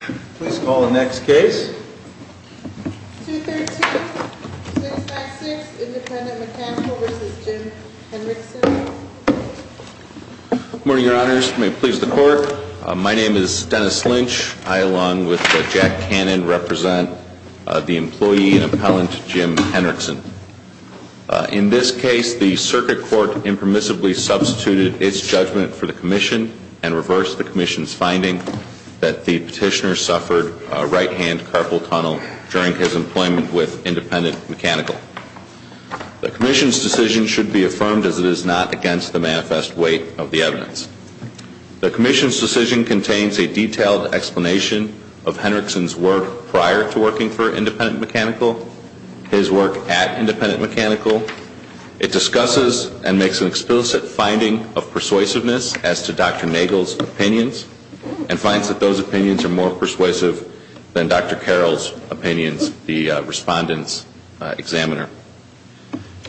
Please call the next case. 213-656, Independent Mechanical v. Jim Henrickson. Good morning, Your Honors. May it please the Court. My name is Dennis Lynch. I, along with Jack Cannon, represent the employee and appellant Jim Henrickson. In this case, the Circuit Court impermissibly substituted its judgment for the Commission and reversed the Commission's finding that the petitioner suffered a right-hand carpal tunnel during his employment with Independent Mechanical. The Commission's decision should be affirmed as it is not against the manifest weight of the evidence. The Commission's decision contains a detailed explanation of Henrickson's work prior to working for Independent Mechanical, his work at Independent Mechanical. It discusses and makes an explicit finding of persuasiveness as to Dr. Nagel's opinions and finds that those opinions are more persuasive than Dr. Carroll's opinions, the respondent's examiner.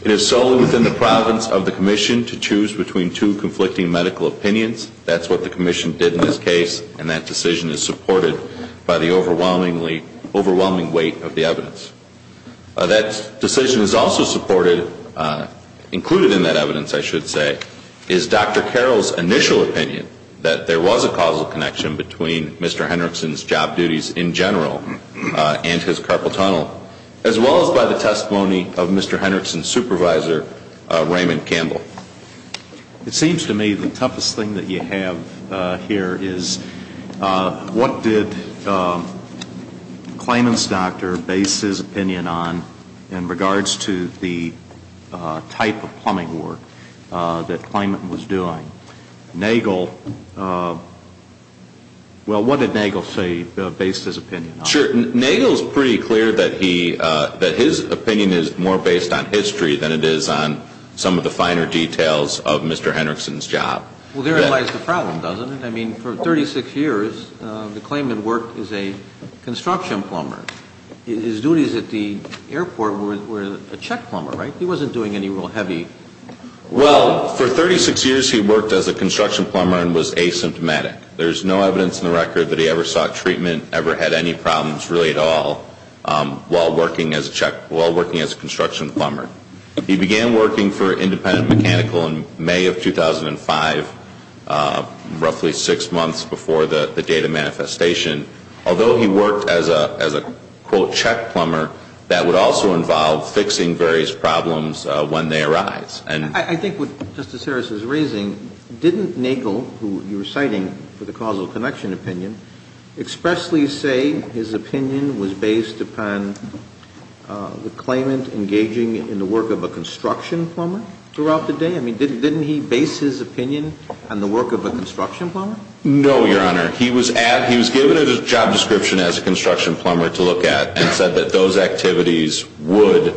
It is solely within the province of the Commission to choose between two conflicting medical opinions. That's what the Commission did in this case, and that decision is supported by the overwhelming weight of the evidence. That decision is also supported, included in that evidence, I should say, is Dr. Carroll's initial opinion that there was a causal connection between Mr. Henrickson's job duties in general and his carpal tunnel, as well as by the testimony of Mr. Henrickson's supervisor, Raymond Campbell. It seems to me the toughest thing that you have here is what did Clayman's doctor base his opinion on in regards to the type of plumbing work that Clayman was doing? Nagel, well, what did Nagel say based his opinion on? Sure, Nagel's pretty clear that his opinion is more based on history than it is on some of the finer details of Mr. Henrickson's job. Well, therein lies the problem, doesn't it? I mean, for 36 years, the Clayman worked as a construction plumber. His duties at the airport were a check plumber, right? He wasn't doing any real heavy work. Well, for 36 years, he worked as a construction plumber and was asymptomatic. There's no evidence in the record that he ever sought treatment, ever had any problems really at all, while working as a construction plumber. He began working for Independent Mechanical in May of 2005, roughly six months before the date of manifestation. Although he worked as a, quote, check plumber, that would also involve fixing various problems when they arise. I think what Justice Harris is raising, didn't Nagel, who you were citing for the causal connection opinion, expressly say his opinion was based upon the Clayman engaging in the work of a construction plumber throughout the day? I mean, didn't he base his opinion on the work of a construction plumber? No, Your Honor. He was given a job description as a construction plumber to look at and said that those activities would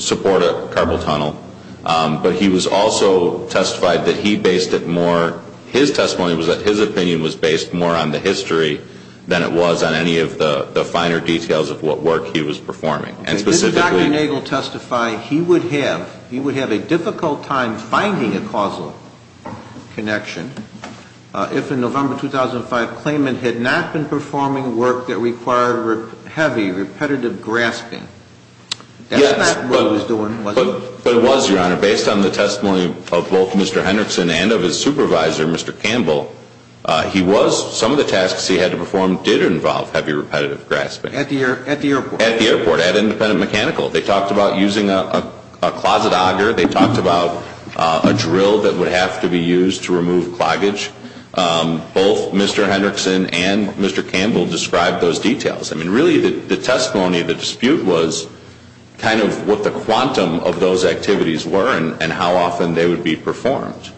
support a carpal tunnel. But he was also testified that he based it more, his testimony was that his opinion was based more on the history than it was on any of the finer details of what work he was performing. Did Dr. Nagel testify he would have, he would have a difficult time finding a causal connection if in November 2005 Clayman had not been performing work that required heavy, repetitive grasping? Yes. That's not what he was doing, was it? But it was, Your Honor. Based on the testimony of both Mr. Hendrickson and of his supervisor, Mr. Campbell, he was, some of the tasks he had to perform did involve heavy, repetitive grasping. At the airport? At the airport. At Independent Mechanical. They talked about using a closet auger. They talked about a drill that would have to be used to remove cloggage. Both Mr. Hendrickson and Mr. Campbell described those details. I mean, really, the testimony, the dispute was kind of what the quantum of those activities were and how often they would be performed.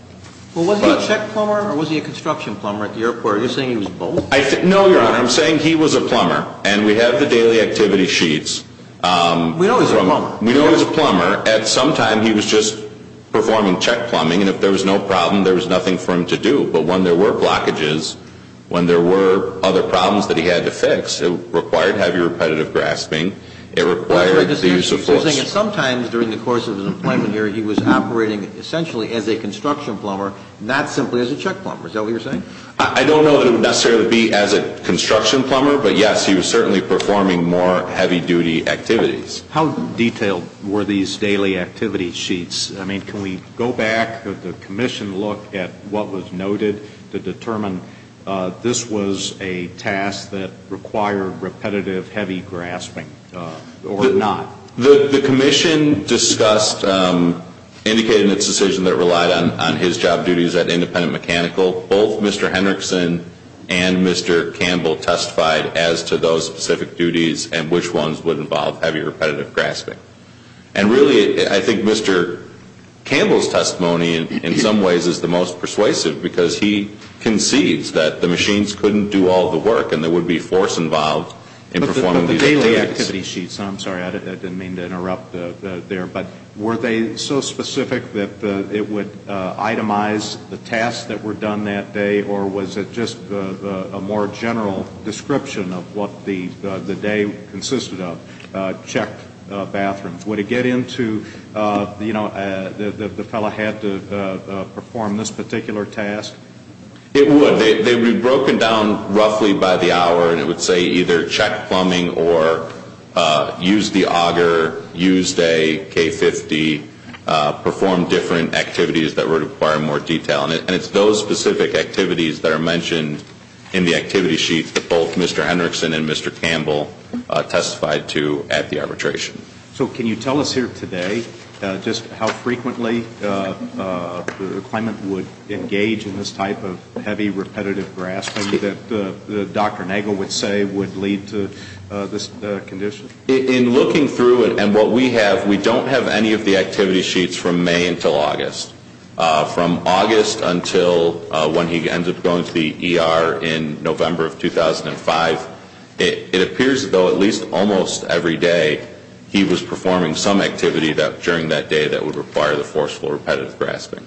Well, was he a check plumber or was he a construction plumber at the airport? Are you saying he was both? No, Your Honor. I'm saying he was a plumber, and we have the daily activity sheets. We know he was a plumber. We know he was a plumber. At some time he was just performing check plumbing, and if there was no problem there was nothing for him to do. But when there were blockages, when there were other problems that he had to fix, it required heavy, repetitive grasping. It required the use of force. Sometimes during the course of his employment here he was operating essentially as a construction plumber, not simply as a check plumber. Is that what you're saying? I don't know that it would necessarily be as a construction plumber, but, yes, he was certainly performing more heavy-duty activities. How detailed were these daily activity sheets? I mean, can we go back, the commission look at what was noted to determine this was a task that required repetitive, heavy grasping or not? The commission discussed, indicated in its decision that it relied on his job duties at Independent Mechanical, both Mr. Henrickson and Mr. Campbell testified as to those specific duties and which ones would involve heavy, repetitive grasping. And really I think Mr. Campbell's testimony in some ways is the most persuasive because he concedes that the machines couldn't do all the work and there would be force involved in performing these activities. But the daily activity sheets, I'm sorry, I didn't mean to interrupt there, but were they so specific that it would itemize the tasks that were done that day or was it just a more general description of what the day consisted of, check bathrooms? Would it get into, you know, the fellow had to perform this particular task? It would. They would be broken down roughly by the hour and it would say either check plumbing or use the auger, use a K-50, perform different activities that would require more detail. And it's those specific activities that are mentioned in the activity sheets that both Mr. Henrickson and Mr. Campbell testified to at the arbitration. So can you tell us here today just how frequently the claimant would engage in this type of heavy, this condition? In looking through it and what we have, we don't have any of the activity sheets from May until August. From August until when he ends up going to the ER in November of 2005, it appears though at least almost every day he was performing some activity during that day that would require the forceful repetitive grasping.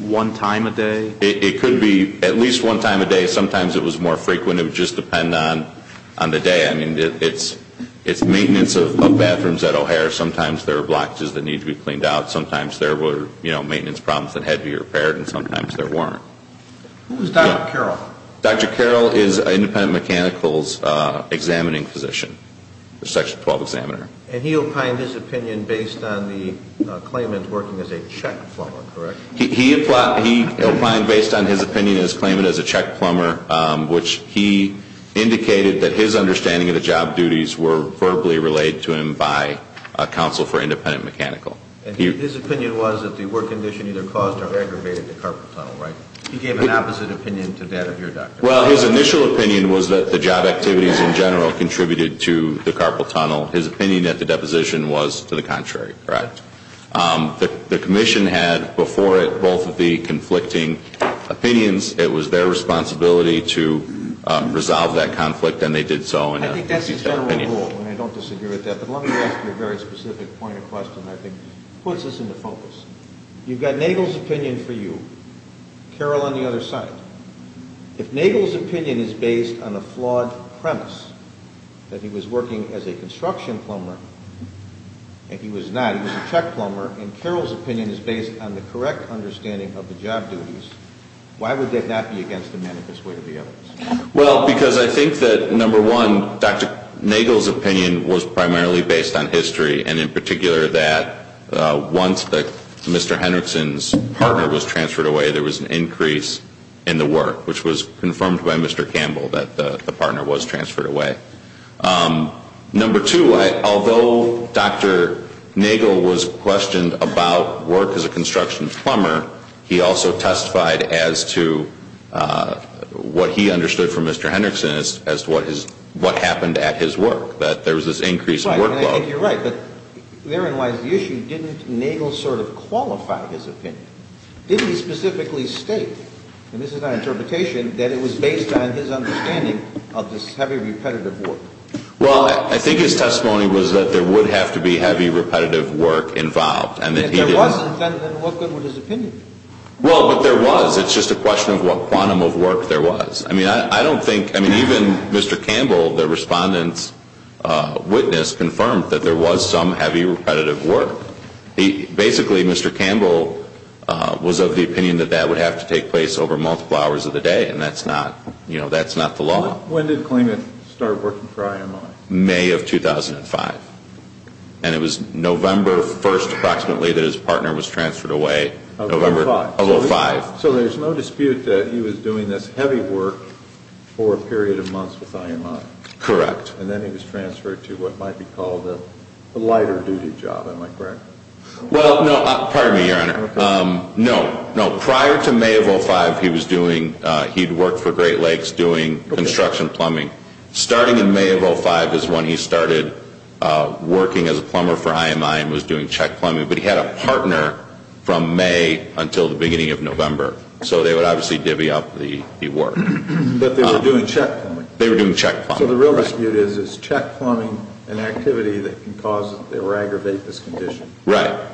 One time a day? It could be at least one time a day. Sometimes it was more frequent. It would just depend on the day. I mean, it's maintenance of bathrooms at O'Hare. Sometimes there were blockages that needed to be cleaned out. Sometimes there were, you know, maintenance problems that had to be repaired and sometimes there weren't. Who is Dr. Carroll? Dr. Carroll is an independent mechanicals examining physician, section 12 examiner. And he opined his opinion based on the claimant working as a check plumber, correct? He opined based on his opinion of his claimant as a check plumber, which he indicated that his understanding of the job duties were verbally relayed to him by counsel for independent mechanical. His opinion was that the work condition either caused or aggravated the carpal tunnel, right? He gave an opposite opinion to that of your doctor. Well, his initial opinion was that the job activities in general contributed to the carpal tunnel. His opinion at the deposition was to the contrary, correct? The commission had before it both of the conflicting opinions. It was their responsibility to resolve that conflict, and they did so. I think that's his general rule, and I don't disagree with that. But let me ask you a very specific point of question I think puts us into focus. You've got Nagel's opinion for you, Carroll on the other side. If Nagel's opinion is based on a flawed premise that he was working as a construction plumber and he was not, he was a check plumber, and Carroll's opinion is based on the correct understanding of the job duties, why would that not be against the manifest way of the evidence? Well, because I think that, number one, Dr. Nagel's opinion was primarily based on history, and in particular that once Mr. Hendrickson's partner was transferred away, there was an increase in the work, which was confirmed by Mr. Campbell, that the partner was transferred away. Number two, although Dr. Nagel was questioned about work as a construction plumber, he also testified as to what he understood from Mr. Hendrickson as to what happened at his work, that there was this increase in workload. You're right, but therein lies the issue. Didn't Nagel sort of qualify his opinion? Didn't he specifically state, and this is my interpretation, that it was based on his understanding of this heavy repetitive work? Well, I think his testimony was that there would have to be heavy repetitive work involved. If there wasn't, then what good would his opinion do? Well, but there was. It's just a question of what quantum of work there was. I mean, I don't think, I mean, even Mr. Campbell, the respondent's witness, confirmed that there was some heavy repetitive work. Basically, Mr. Campbell was of the opinion that that would have to take place over multiple hours of the day, and that's not, you know, that's not the law. When did Klingman start working for IMI? May of 2005. And it was November 1st, approximately, that his partner was transferred away. November 5th. November 5th. So there's no dispute that he was doing this heavy work for a period of months with IMI. Correct. And then he was transferred to what might be called a lighter duty job, am I correct? Well, no, pardon me, Your Honor. No, no, prior to May of 2005, he was doing, he'd worked for Great Lakes doing construction plumbing. Starting in May of 2005 is when he started working as a plumber for IMI and was doing check plumbing, but he had a partner from May until the beginning of November. So they would obviously divvy up the work. But they were doing check plumbing. They were doing check plumbing. So the real dispute is, is check plumbing an activity that can cause or aggravate this condition? Right.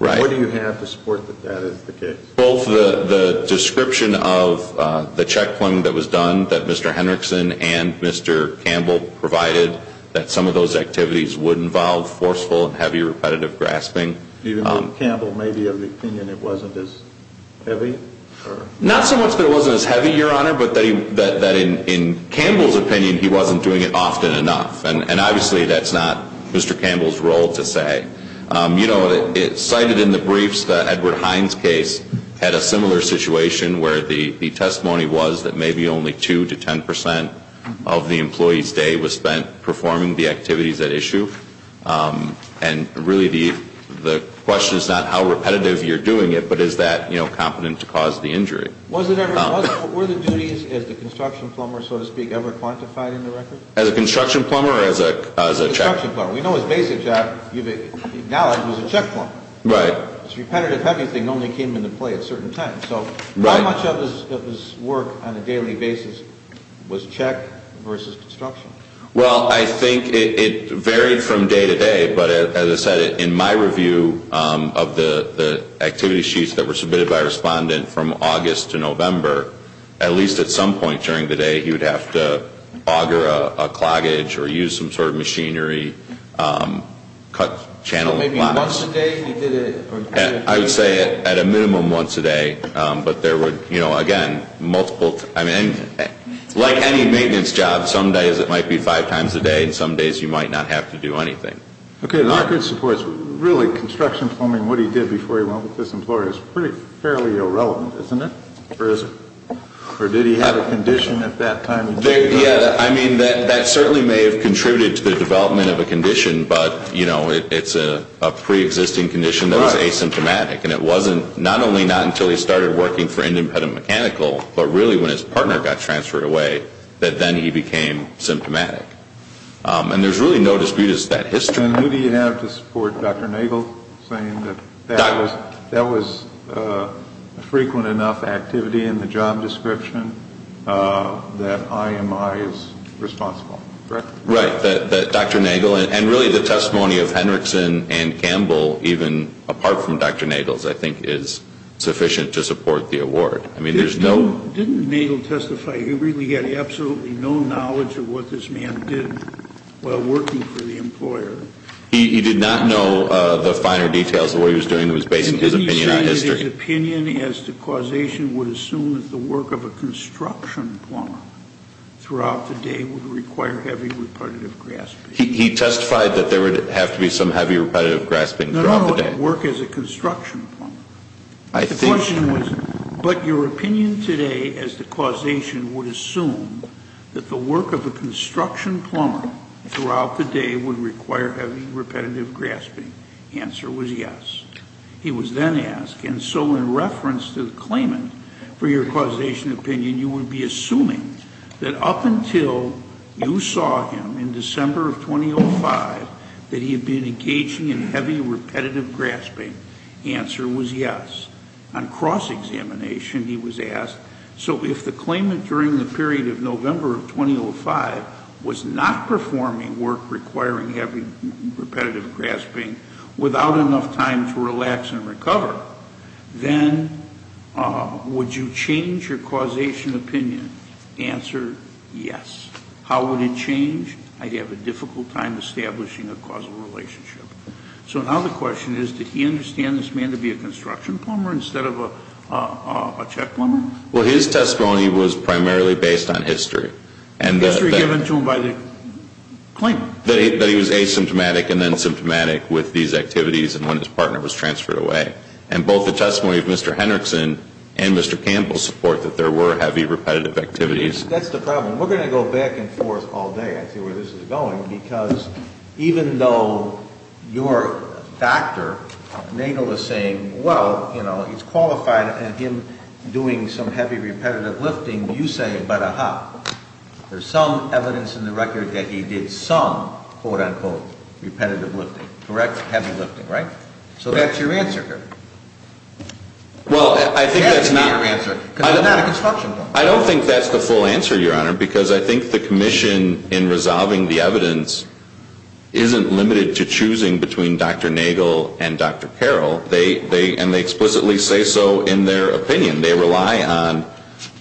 Right. What do you have to support that that is the case? Well, the description of the check plumbing that was done that Mr. Henriksen and Mr. Campbell provided, that some of those activities would involve forceful and heavy repetitive grasping. Do you think Campbell may be of the opinion it wasn't as heavy? Not so much that it wasn't as heavy, Your Honor, but that in Campbell's opinion he wasn't doing it often enough. And obviously that's not Mr. Campbell's role to say. You know, it's cited in the briefs that Edward Hines' case had a similar situation where the testimony was that maybe only 2% to 10% of the employee's day was spent performing the activities at issue. And really the question is not how repetitive you're doing it, but is that competent to cause the injury? Were the duties as the construction plumber, so to speak, ever quantified in the records? As a construction plumber or as a check? As a construction plumber. We know his basic job, you've acknowledged, was a check plumber. Right. His repetitive heavy thing only came into play at certain times. Right. So how much of his work on a daily basis was check versus construction? Well, I think it varied from day to day. But as I said, in my review of the activity sheets that were submitted by a respondent from August to November, at least at some point during the day he would have to auger a cloggage or use some sort of machinery, cut channel blocks. So maybe once a day he did it? I would say at a minimum once a day. But there were, you know, again, multiple, I mean, like any maintenance job, some days it might be five times a day and some days you might not have to do anything. Okay. A lot of good supports. Really, construction plumbing, what he did before he went with this employer, is fairly irrelevant, isn't it? Or did he have a condition at that time? Yeah. I mean, that certainly may have contributed to the development of a condition. But, you know, it's a preexisting condition that was asymptomatic. And it wasn't not only not until he started working for Indian Pet and Mechanical, but really when his partner got transferred away, that then he became symptomatic. And there's really no dispute as to that history. And who do you have to support Dr. Nagel saying that that was frequent enough activity in the job description that IMI is responsible? Correct? Right, that Dr. Nagel, and really the testimony of Henrickson and Campbell, even apart from Dr. Nagel's, I think is sufficient to support the award. I mean, there's no- Didn't Nagel testify? He really had absolutely no knowledge of what this man did while working for the employer. He did not know the finer details of what he was doing. It was based on his opinion on history. And didn't he say that his opinion as to causation would assume that the work of a construction plumber throughout the day would require heavy repetitive grasping? He testified that there would have to be some heavy repetitive grasping throughout the day. Not only at work as a construction plumber. I think- The question was, but your opinion today as to causation would assume that the work of a construction plumber throughout the day would require heavy repetitive grasping? The answer was yes. He was then asked, and so in reference to the claimant for your causation opinion, you would be assuming that up until you saw him in December of 2005 that he had been engaging in heavy repetitive grasping. The answer was yes. On cross-examination he was asked, so if the claimant during the period of November of 2005 was not performing work requiring heavy repetitive grasping without enough time to relax and recover, then would you change your causation opinion? The answer, yes. How would it change? I'd have a difficult time establishing a causal relationship. So now the question is, did he understand this man to be a construction plumber instead of a check plumber? Well, his testimony was primarily based on history. History given to him by the claimant. That he was asymptomatic and then symptomatic with these activities and when his partner was transferred away. And both the testimony of Mr. Henriksen and Mr. Campbell support that there were heavy repetitive activities. That's the problem. We're going to go back and forth all day, I see where this is going, because even though your doctor may know the same, well, you know, he's qualified in him doing some heavy repetitive lifting. You say, but aha, there's some evidence in the record that he did some, quote, unquote, repetitive lifting. Correct? Heavy lifting, right? So that's your answer here. Well, I think that's not. It has to be your answer, because I'm not a construction plumber. I don't think that's the full answer, Your Honor, because I think the commission in resolving the evidence isn't limited to choosing between Dr. Nagel and Dr. Carroll. And they explicitly say so in their opinion. They rely on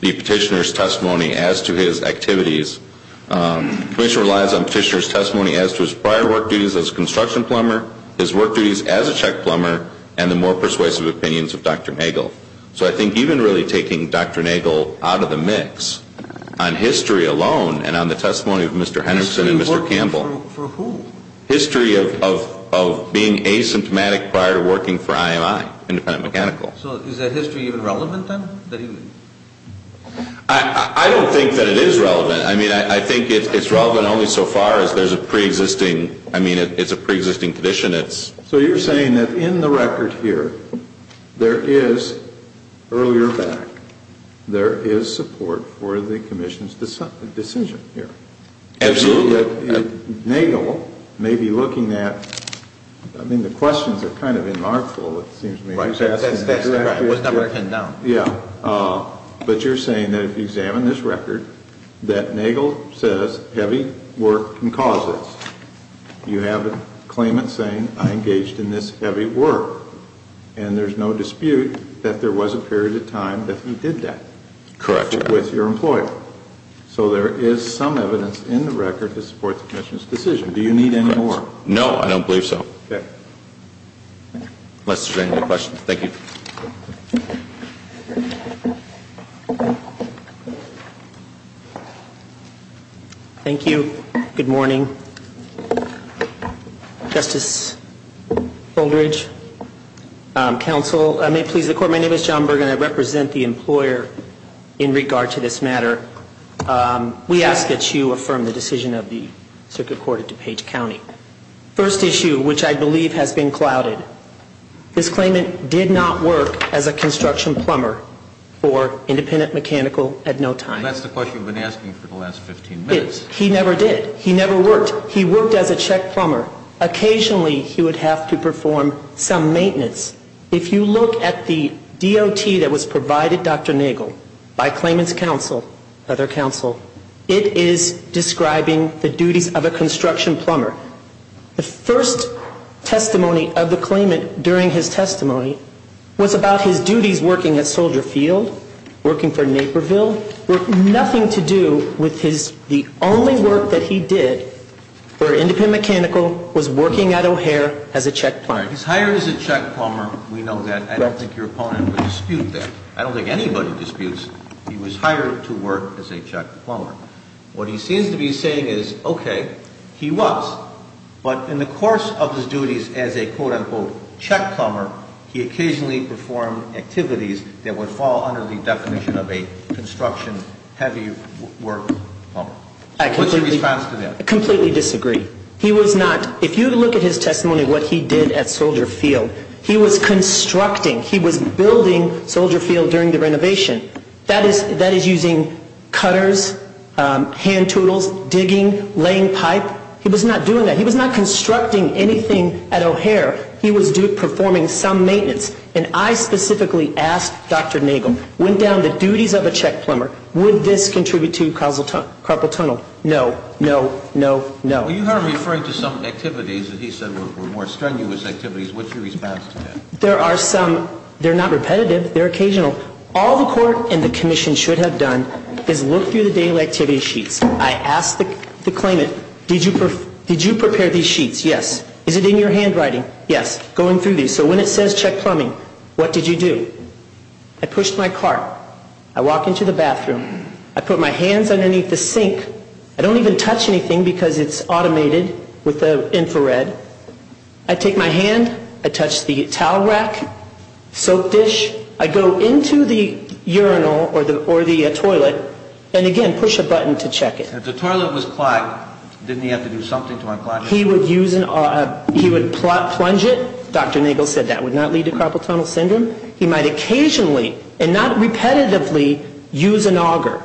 the petitioner's testimony as to his activities. The commission relies on the petitioner's testimony as to his prior work duties as a construction plumber, his work duties as a check plumber, and the more persuasive opinions of Dr. Nagel. So I think even really taking Dr. Nagel out of the mix on history alone and on the testimony of Mr. Henderson and Mr. Campbell. History of working for who? History of being asymptomatic prior to working for IMI, independent mechanical. So is that history even relevant then? I don't think that it is relevant. I mean, I think it's relevant only so far as there's a preexisting. I mean, it's a preexisting condition. So you're saying that in the record here there is, earlier back, there is support for the commission's decision here. Absolutely. Nagel may be looking at, I mean, the questions are kind of remarkable, it seems to me. It was never written down. Yeah. But you're saying that if you examine this record, that Nagel says heavy work can cause this. You have a claimant saying, I engaged in this heavy work. And there's no dispute that there was a period of time that he did that. Correct. With your employer. So there is some evidence in the record to support the commission's decision. Do you need any more? No, I don't believe so. Okay. Unless there's any other questions. Thank you. Thank you. Good morning. Justice Oldridge. Counsel, may it please the Court, my name is John Berg and I represent the employer in regard to this matter. We ask that you affirm the decision of the Circuit Court of DuPage County. First issue, which I believe has been clouded. This claimant did not work as a construction plumber for independent mechanical at no time. That's the question we've been asking for the last 15 minutes. He never did. He never worked. He worked as a check plumber. Occasionally he would have to perform some maintenance. If you look at the DOT that was provided, Dr. Nagel, by claimant's counsel, other counsel, it is describing the duties of a construction plumber. The first testimony of the claimant during his testimony was about his duties working at Soldier Field, working for Naperville, with nothing to do with the only work that he did for independent mechanical, was working at O'Hare as a check plumber. He's hired as a check plumber. We know that. I don't think your opponent would dispute that. I don't think anybody disputes he was hired to work as a check plumber. What he seems to be saying is, okay, he was. But in the course of his duties as a, quote, unquote, check plumber, he occasionally performed activities that would fall under the definition of a construction heavy work plumber. What's your response to that? I completely disagree. He was not. If you look at his testimony, what he did at Soldier Field, he was constructing. He was building Soldier Field during the renovation. That is using cutters, hand tools, digging, laying pipe. He was not doing that. He was not constructing anything at O'Hare. He was performing some maintenance. And I specifically asked Dr. Nagle, went down the duties of a check plumber, would this contribute to carpal tunnel? No, no, no, no. You heard him referring to some activities that he said were more strenuous activities. What's your response to that? There are some. They're not repetitive. They're occasional. All the court and the commission should have done is look through the daily activity sheets. I asked the claimant, did you prepare these sheets? Yes. Is it in your handwriting? Yes. Going through these. So when it says check plumbing, what did you do? I pushed my cart. I walk into the bathroom. I put my hands underneath the sink. I don't even touch anything because it's automated with the infrared. I take my hand. I touch the towel rack, soap dish. I go into the urinal or the toilet and, again, push a button to check it. If the toilet was clogged, didn't he have to do something to unclog it? He would use an auger. He would plunge it. Dr. Nagle said that would not lead to carpal tunnel syndrome. He might occasionally and not repetitively use an auger.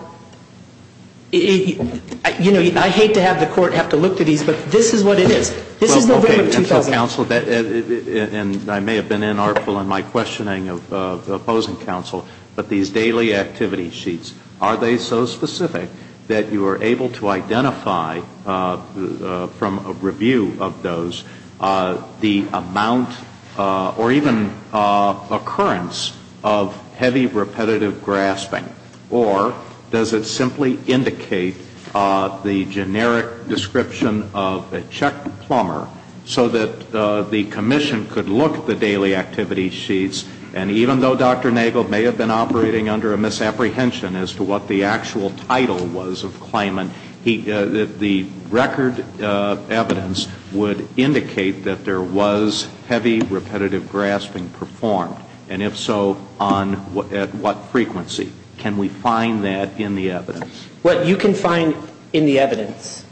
You know, I hate to have the court have to look through these, but this is what it is. This is November of 2000. Counsel, and I may have been inartful in my questioning of opposing counsel, but these daily activity sheets, are they so specific that you are able to identify from a review of those the amount or even occurrence of heavy repetitive grasping, or does it simply indicate the generic description of a checked plumber so that the commission could look at the daily activity sheets and even though Dr. Nagle may have been operating under a misapprehension as to what the actual title was of Kleiman, the record evidence would indicate that there was heavy repetitive grasping performed, and if so, at what frequency? Can we find that in the evidence? Well, you can find in the evidence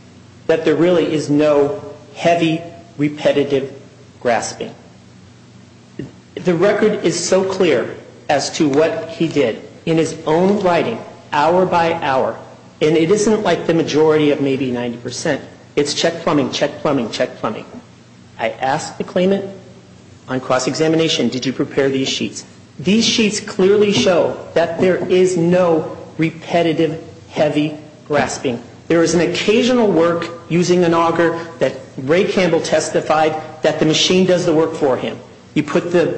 that there really is no heavy repetitive grasping. The record is so clear as to what he did in his own writing, hour by hour, and it isn't like the majority of maybe 90%. It's check plumbing, check plumbing, check plumbing. I asked the Kleiman on cross-examination, did you prepare these sheets? These sheets clearly show that there is no repetitive heavy grasping. There is an occasional work using an auger that Ray Campbell testified that the machine does the work for him. You put the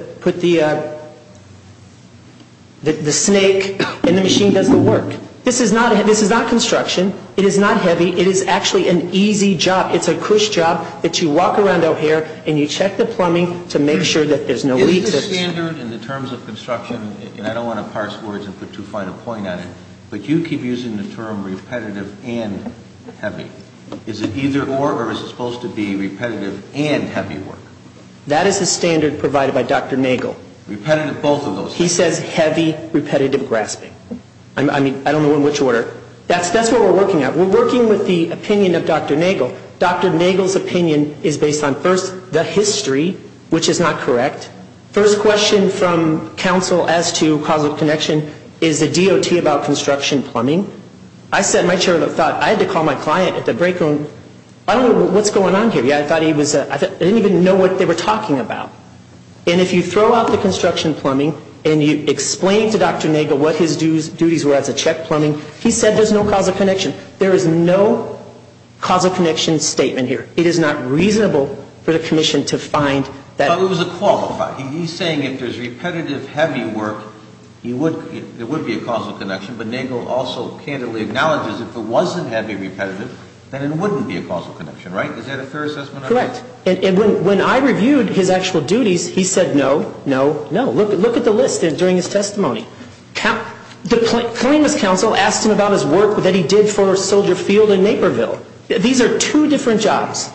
snake and the machine does the work. This is not construction. It is not heavy. It is actually an easy job. You walk around O'Hare and you check the plumbing to make sure that there's no leak. Is the standard in the terms of construction, and I don't want to parse words and put too fine a point on it, but you keep using the term repetitive and heavy. Is it either or, or is it supposed to be repetitive and heavy work? That is the standard provided by Dr. Nagle. Repetitive both of those things. He says heavy repetitive grasping. I mean, I don't know in which order. That's what we're working at. We're working with the opinion of Dr. Nagle. Dr. Nagle's opinion is based on, first, the history, which is not correct. First question from counsel as to causal connection is the DOT about construction plumbing. I sat in my chair and thought, I had to call my client at the break room. I don't know what's going on here. I didn't even know what they were talking about. And if you throw out the construction plumbing and you explain to Dr. Nagle what his duties were as a check plumbing, he said there's no causal connection. There is no causal connection statement here. It is not reasonable for the commission to find that. But it was a qualified. He's saying if there's repetitive heavy work, there would be a causal connection, but Nagle also candidly acknowledges if it wasn't heavy repetitive, then it wouldn't be a causal connection, right? Is that a fair assessment? Correct. And when I reviewed his actual duties, he said no, no, no. Look at the list during his testimony. The plaintiff's counsel asked him about his work that he did for Soldier Field in Naperville. These are two different jobs.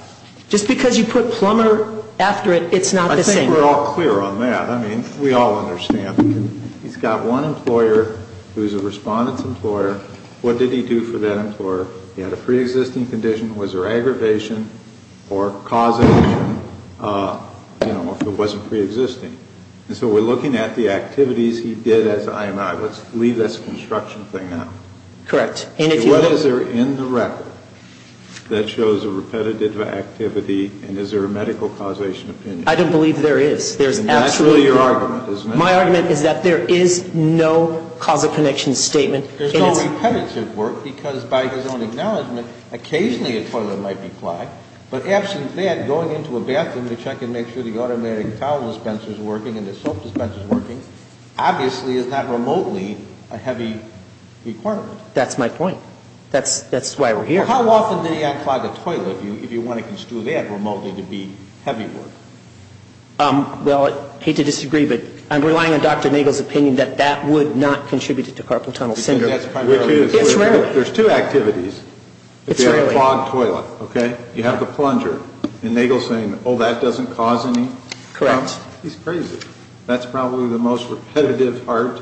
Just because you put plumber after it, it's not the same. I think we're all clear on that. I mean, we all understand. He's got one employer who's a respondent's employer. What did he do for that employer? He had a preexisting condition. Was there aggravation or causation, you know, if it wasn't preexisting? And so we're looking at the activities he did as IMI. Let's leave this construction thing out. Correct. What is there in the record that shows a repetitive activity, and is there a medical causation opinion? I don't believe there is. And that's really your argument, isn't it? My argument is that there is no causal connection statement. There's no repetitive work, because by his own acknowledgment, occasionally a toilet might be clogged. But absent that, going into a bathroom to check and make sure the automatic towel dispenser is working and the soap dispenser is working, obviously is not remotely a heavy requirement. That's my point. That's why we're here. How often did he unclog a toilet if you want to construe that remotely to be heavy work? Well, I hate to disagree, but I'm relying on Dr. Nagle's opinion that that would not contribute to carpal tunnel syndrome. It's rarely. There's two activities. It's rarely. It's a clogged toilet, okay? You have the plunger, and Nagle's saying, oh, that doesn't cause any problems. Correct. He's crazy. That's probably the most repetitive part.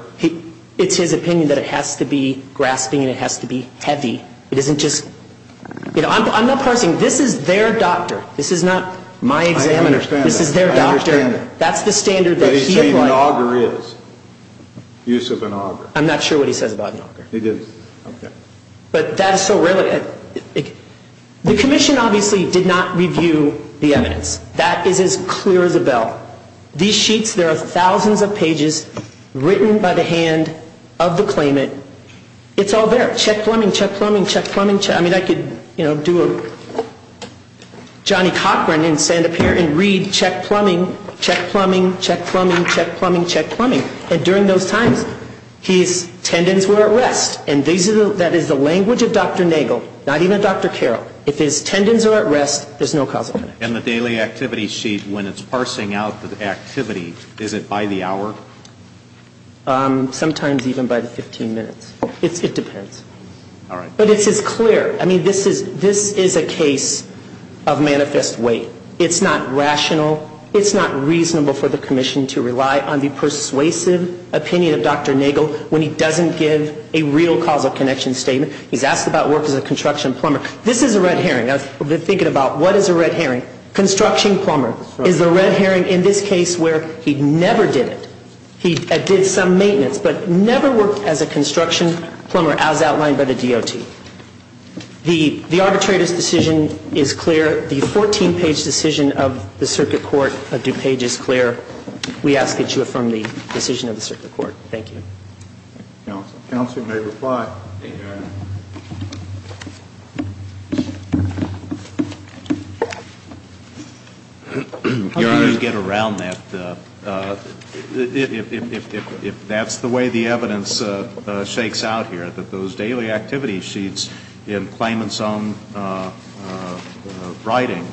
It's his opinion that it has to be grasping and it has to be heavy. It isn't just – I'm not parsing. This is their doctor. This is not my examiner. This is their doctor. I understand that. That's the standard that he applied. But he's saying an auger is. Use of an auger. I'm not sure what he says about an auger. He didn't. Okay. But that is so rarely – the commission obviously did not review the evidence. That is as clear as a bell. These sheets, there are thousands of pages written by the hand of the claimant. It's all there. Check plumbing, check plumbing, check plumbing. I mean, I could do a Johnny Cochran and stand up here and read check plumbing, check plumbing, check plumbing, check plumbing, check plumbing. And during those times, his tendons were at rest. And that is the language of Dr. Nagel, not even Dr. Carroll. If his tendons are at rest, there's no causal connection. And the daily activity sheet, when it's parsing out the activity, is it by the hour? Sometimes even by the 15 minutes. It depends. All right. But it's as clear. I mean, this is a case of manifest weight. It's not rational. It's not reasonable for the commission to rely on the persuasive opinion of Dr. Nagel when he doesn't give a real causal connection statement. He's asked about work as a construction plumber. This is a red herring. I've been thinking about what is a red herring. Construction plumber is a red herring in this case where he never did it. He did some maintenance but never worked as a construction plumber as outlined by the DOT. The arbitrator's decision is clear. The 14-page decision of the Circuit Court of DuPage is clear. We ask that you affirm the decision of the Circuit Court. Thank you. Counsel may reply. Thank you, Your Honor. Your Honor. How do you get around that? If that's the way the evidence shakes out here, that those daily activity sheets in Clayman's own writing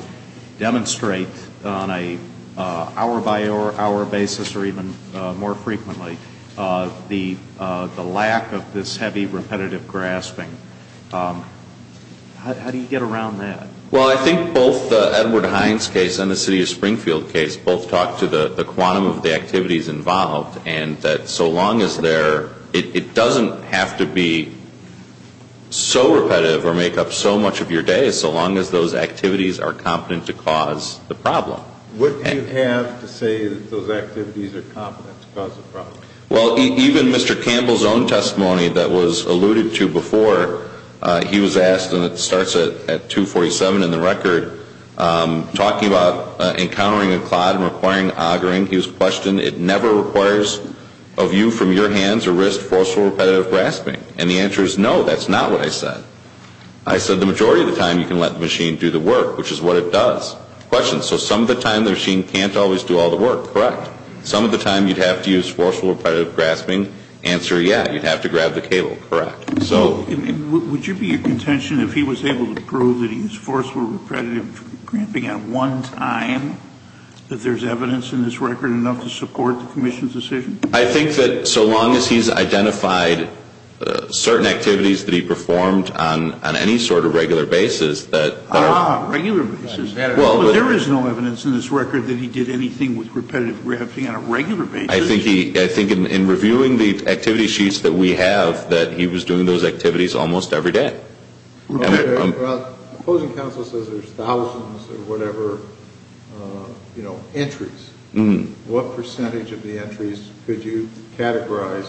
demonstrate on an hour-by-hour basis or even more frequently the lack of this heavy repetitive grasping, how do you get around that? Well, I think both the Edward Hines case and the City of Springfield case both talk to the quantum of the activities involved and that so long as they're – it doesn't have to be so repetitive or make up so much of your day so long as those activities are competent to cause the problem. Wouldn't you have to say that those activities are competent to cause the problem? Well, even Mr. Campbell's own testimony that was alluded to before, he was asked, and it starts at 247 in the record, talking about encountering a clod and requiring augering, he was questioned, it never requires of you from your hands or wrist forceful repetitive grasping? And the answer is no, that's not what I said. I said the majority of the time you can let the machine do the work, which is what it does. Question, so some of the time the machine can't always do all the work, correct? Some of the time you'd have to use forceful repetitive grasping. Answer, yeah, you'd have to grab the cable, correct. Would you be of contention if he was able to prove that he was forceful repetitive grasping at one time that there's evidence in this record enough to support the commission's decision? I think that so long as he's identified certain activities that he performed on any sort of regular basis that – There is no evidence in this record that he did anything with repetitive grasping on a regular basis. I think in reviewing the activity sheets that we have that he was doing those activities almost every day. Well, the opposing counsel says there's thousands of whatever, you know, entries. What percentage of the entries could you categorize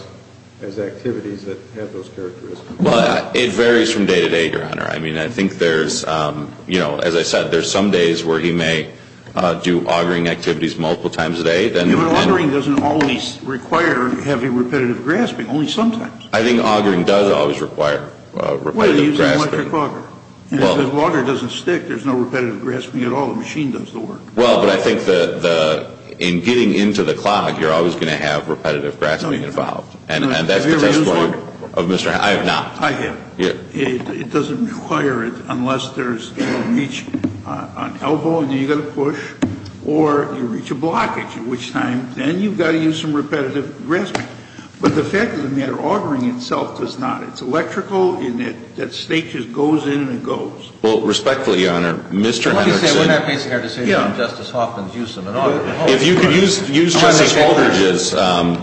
as activities that have those characteristics? I mean, I think there's, you know, as I said, there's some days where he may do augering activities multiple times a day. Even augering doesn't always require heavy repetitive grasping, only sometimes. I think augering does always require repetitive grasping. What, are you using a microclogger? If the logger doesn't stick, there's no repetitive grasping at all, the machine does the work. Well, but I think in getting into the clock, you're always going to have repetitive grasping involved. Have you ever used a logger? I have not. I have. It doesn't require it unless there's reach on elbow, and then you've got to push, or you reach a blockage, at which time then you've got to use some repetitive grasping. But the fact of the matter, augering itself does not. It's electrical, and that stage just goes in and it goes. Well, respectfully, Your Honor, Mr. Henrickson. Well, let me say, we're not making a decision on Justice Hoffman's use of an auger. If you could use Justice Aldridge's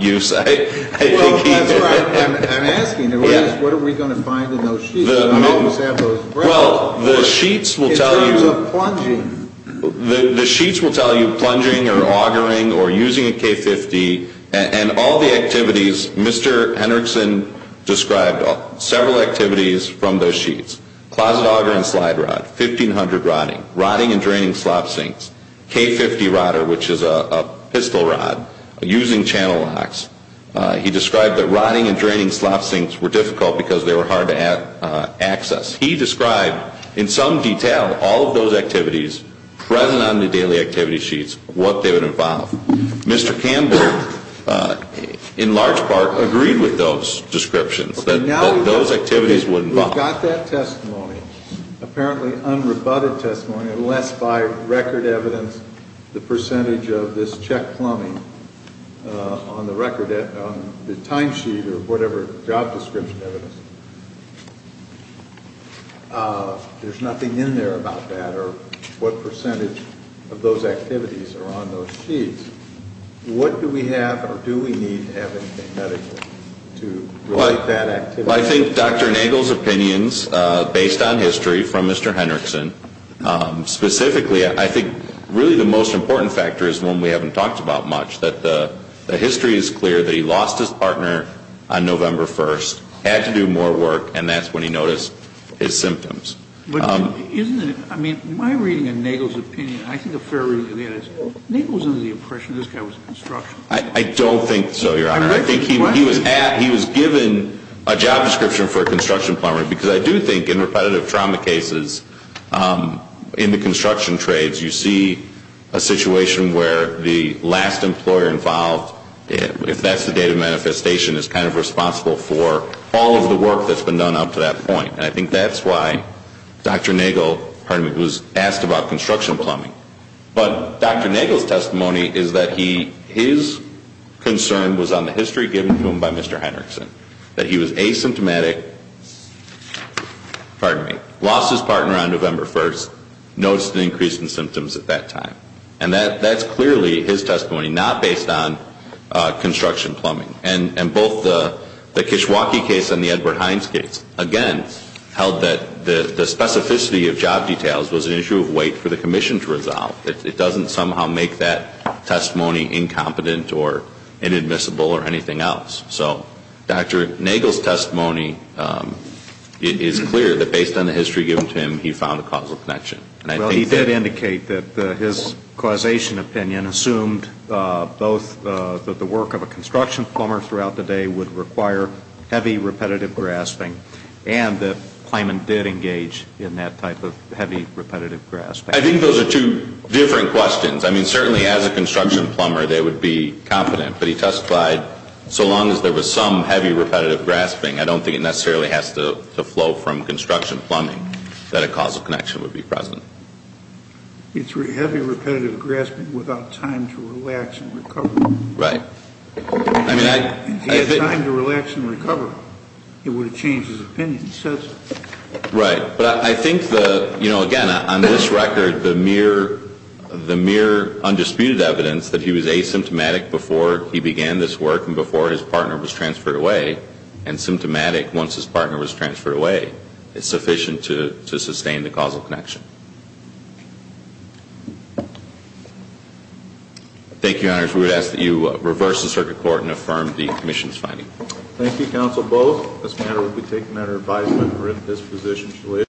use, I think he's right. I'm asking, what are we going to find in those sheets? Well, the sheets will tell you. In terms of plunging. The sheets will tell you, plunging, or augering, or using a K-50, and all the activities, Mr. Henrickson described several activities from those sheets. Closet auger and slide rod, 1500 rotting, rotting and draining slop sinks, K-50 rotter, which is a pistol rod, using channel locks. He described that rotting and draining slop sinks were difficult because they were hard to access. He described in some detail all of those activities present on the daily activity sheets, what they would involve. Mr. Campbell, in large part, agreed with those descriptions, that those activities would involve. We've got that testimony, apparently unrebutted testimony, unless by record evidence the percentage of this check plumbing on the record, on the timesheet or whatever job description evidence, there's nothing in there about that, or what percentage of those activities are on those sheets. What do we have, or do we need to have anything medically to relate that activity? Well, I think Dr. Nagel's opinions, based on history from Mr. Henrickson, specifically, I think really the most important factor is one we haven't talked about much, that the history is clear that he lost his partner on November 1st, had to do more work, and that's when he noticed his symptoms. Isn't it, I mean, my reading of Nagel's opinion, I think a fair reading of that is, Nagel was under the impression this guy was a construction company. I don't think so, Your Honor. I think he was given a job description for a construction plumber, because I do think in repetitive trauma cases, in the construction trades, you see a situation where the last employer involved, if that's the date of manifestation, is kind of responsible for all of the work that's been done up to that point. And I think that's why Dr. Nagel was asked about construction plumbing. But Dr. Nagel's testimony is that his concern was on the history given to him by Mr. Henrickson, that he was asymptomatic, pardon me, lost his partner on November 1st, noticed an increase in symptoms at that time. And that's clearly his testimony, not based on construction plumbing. And both the Kishwaukee case and the Edward Hines case, again, held that the specificity of job details was an issue of weight for the commission to resolve. It doesn't somehow make that testimony incompetent or inadmissible or anything else. So Dr. Nagel's testimony is clear that based on the history given to him, he found a causal connection. Well, he did indicate that his causation opinion assumed both that the work of a construction plumber throughout the day would require heavy repetitive grasping, and that Kleiman did engage in that type of heavy repetitive grasping. I think those are two different questions. I mean, certainly as a construction plumber, they would be confident. But he testified so long as there was some heavy repetitive grasping, I don't think it necessarily has to flow from construction plumbing that a causal connection would be present. It's heavy repetitive grasping without time to relax and recover. Right. If he had time to relax and recover, it would have changed his opinion. Right. But I think, again, on this record, the mere undisputed evidence that he was asymptomatic before he began this work and before his partner was transferred away, and symptomatic once his partner was transferred away, is sufficient to sustain the causal connection. Thank you, Your Honors. We would ask that you reverse the circuit court and affirm the commission's finding. Thank you, Counsel Bowes. This matter will be taken under advisement for in this position.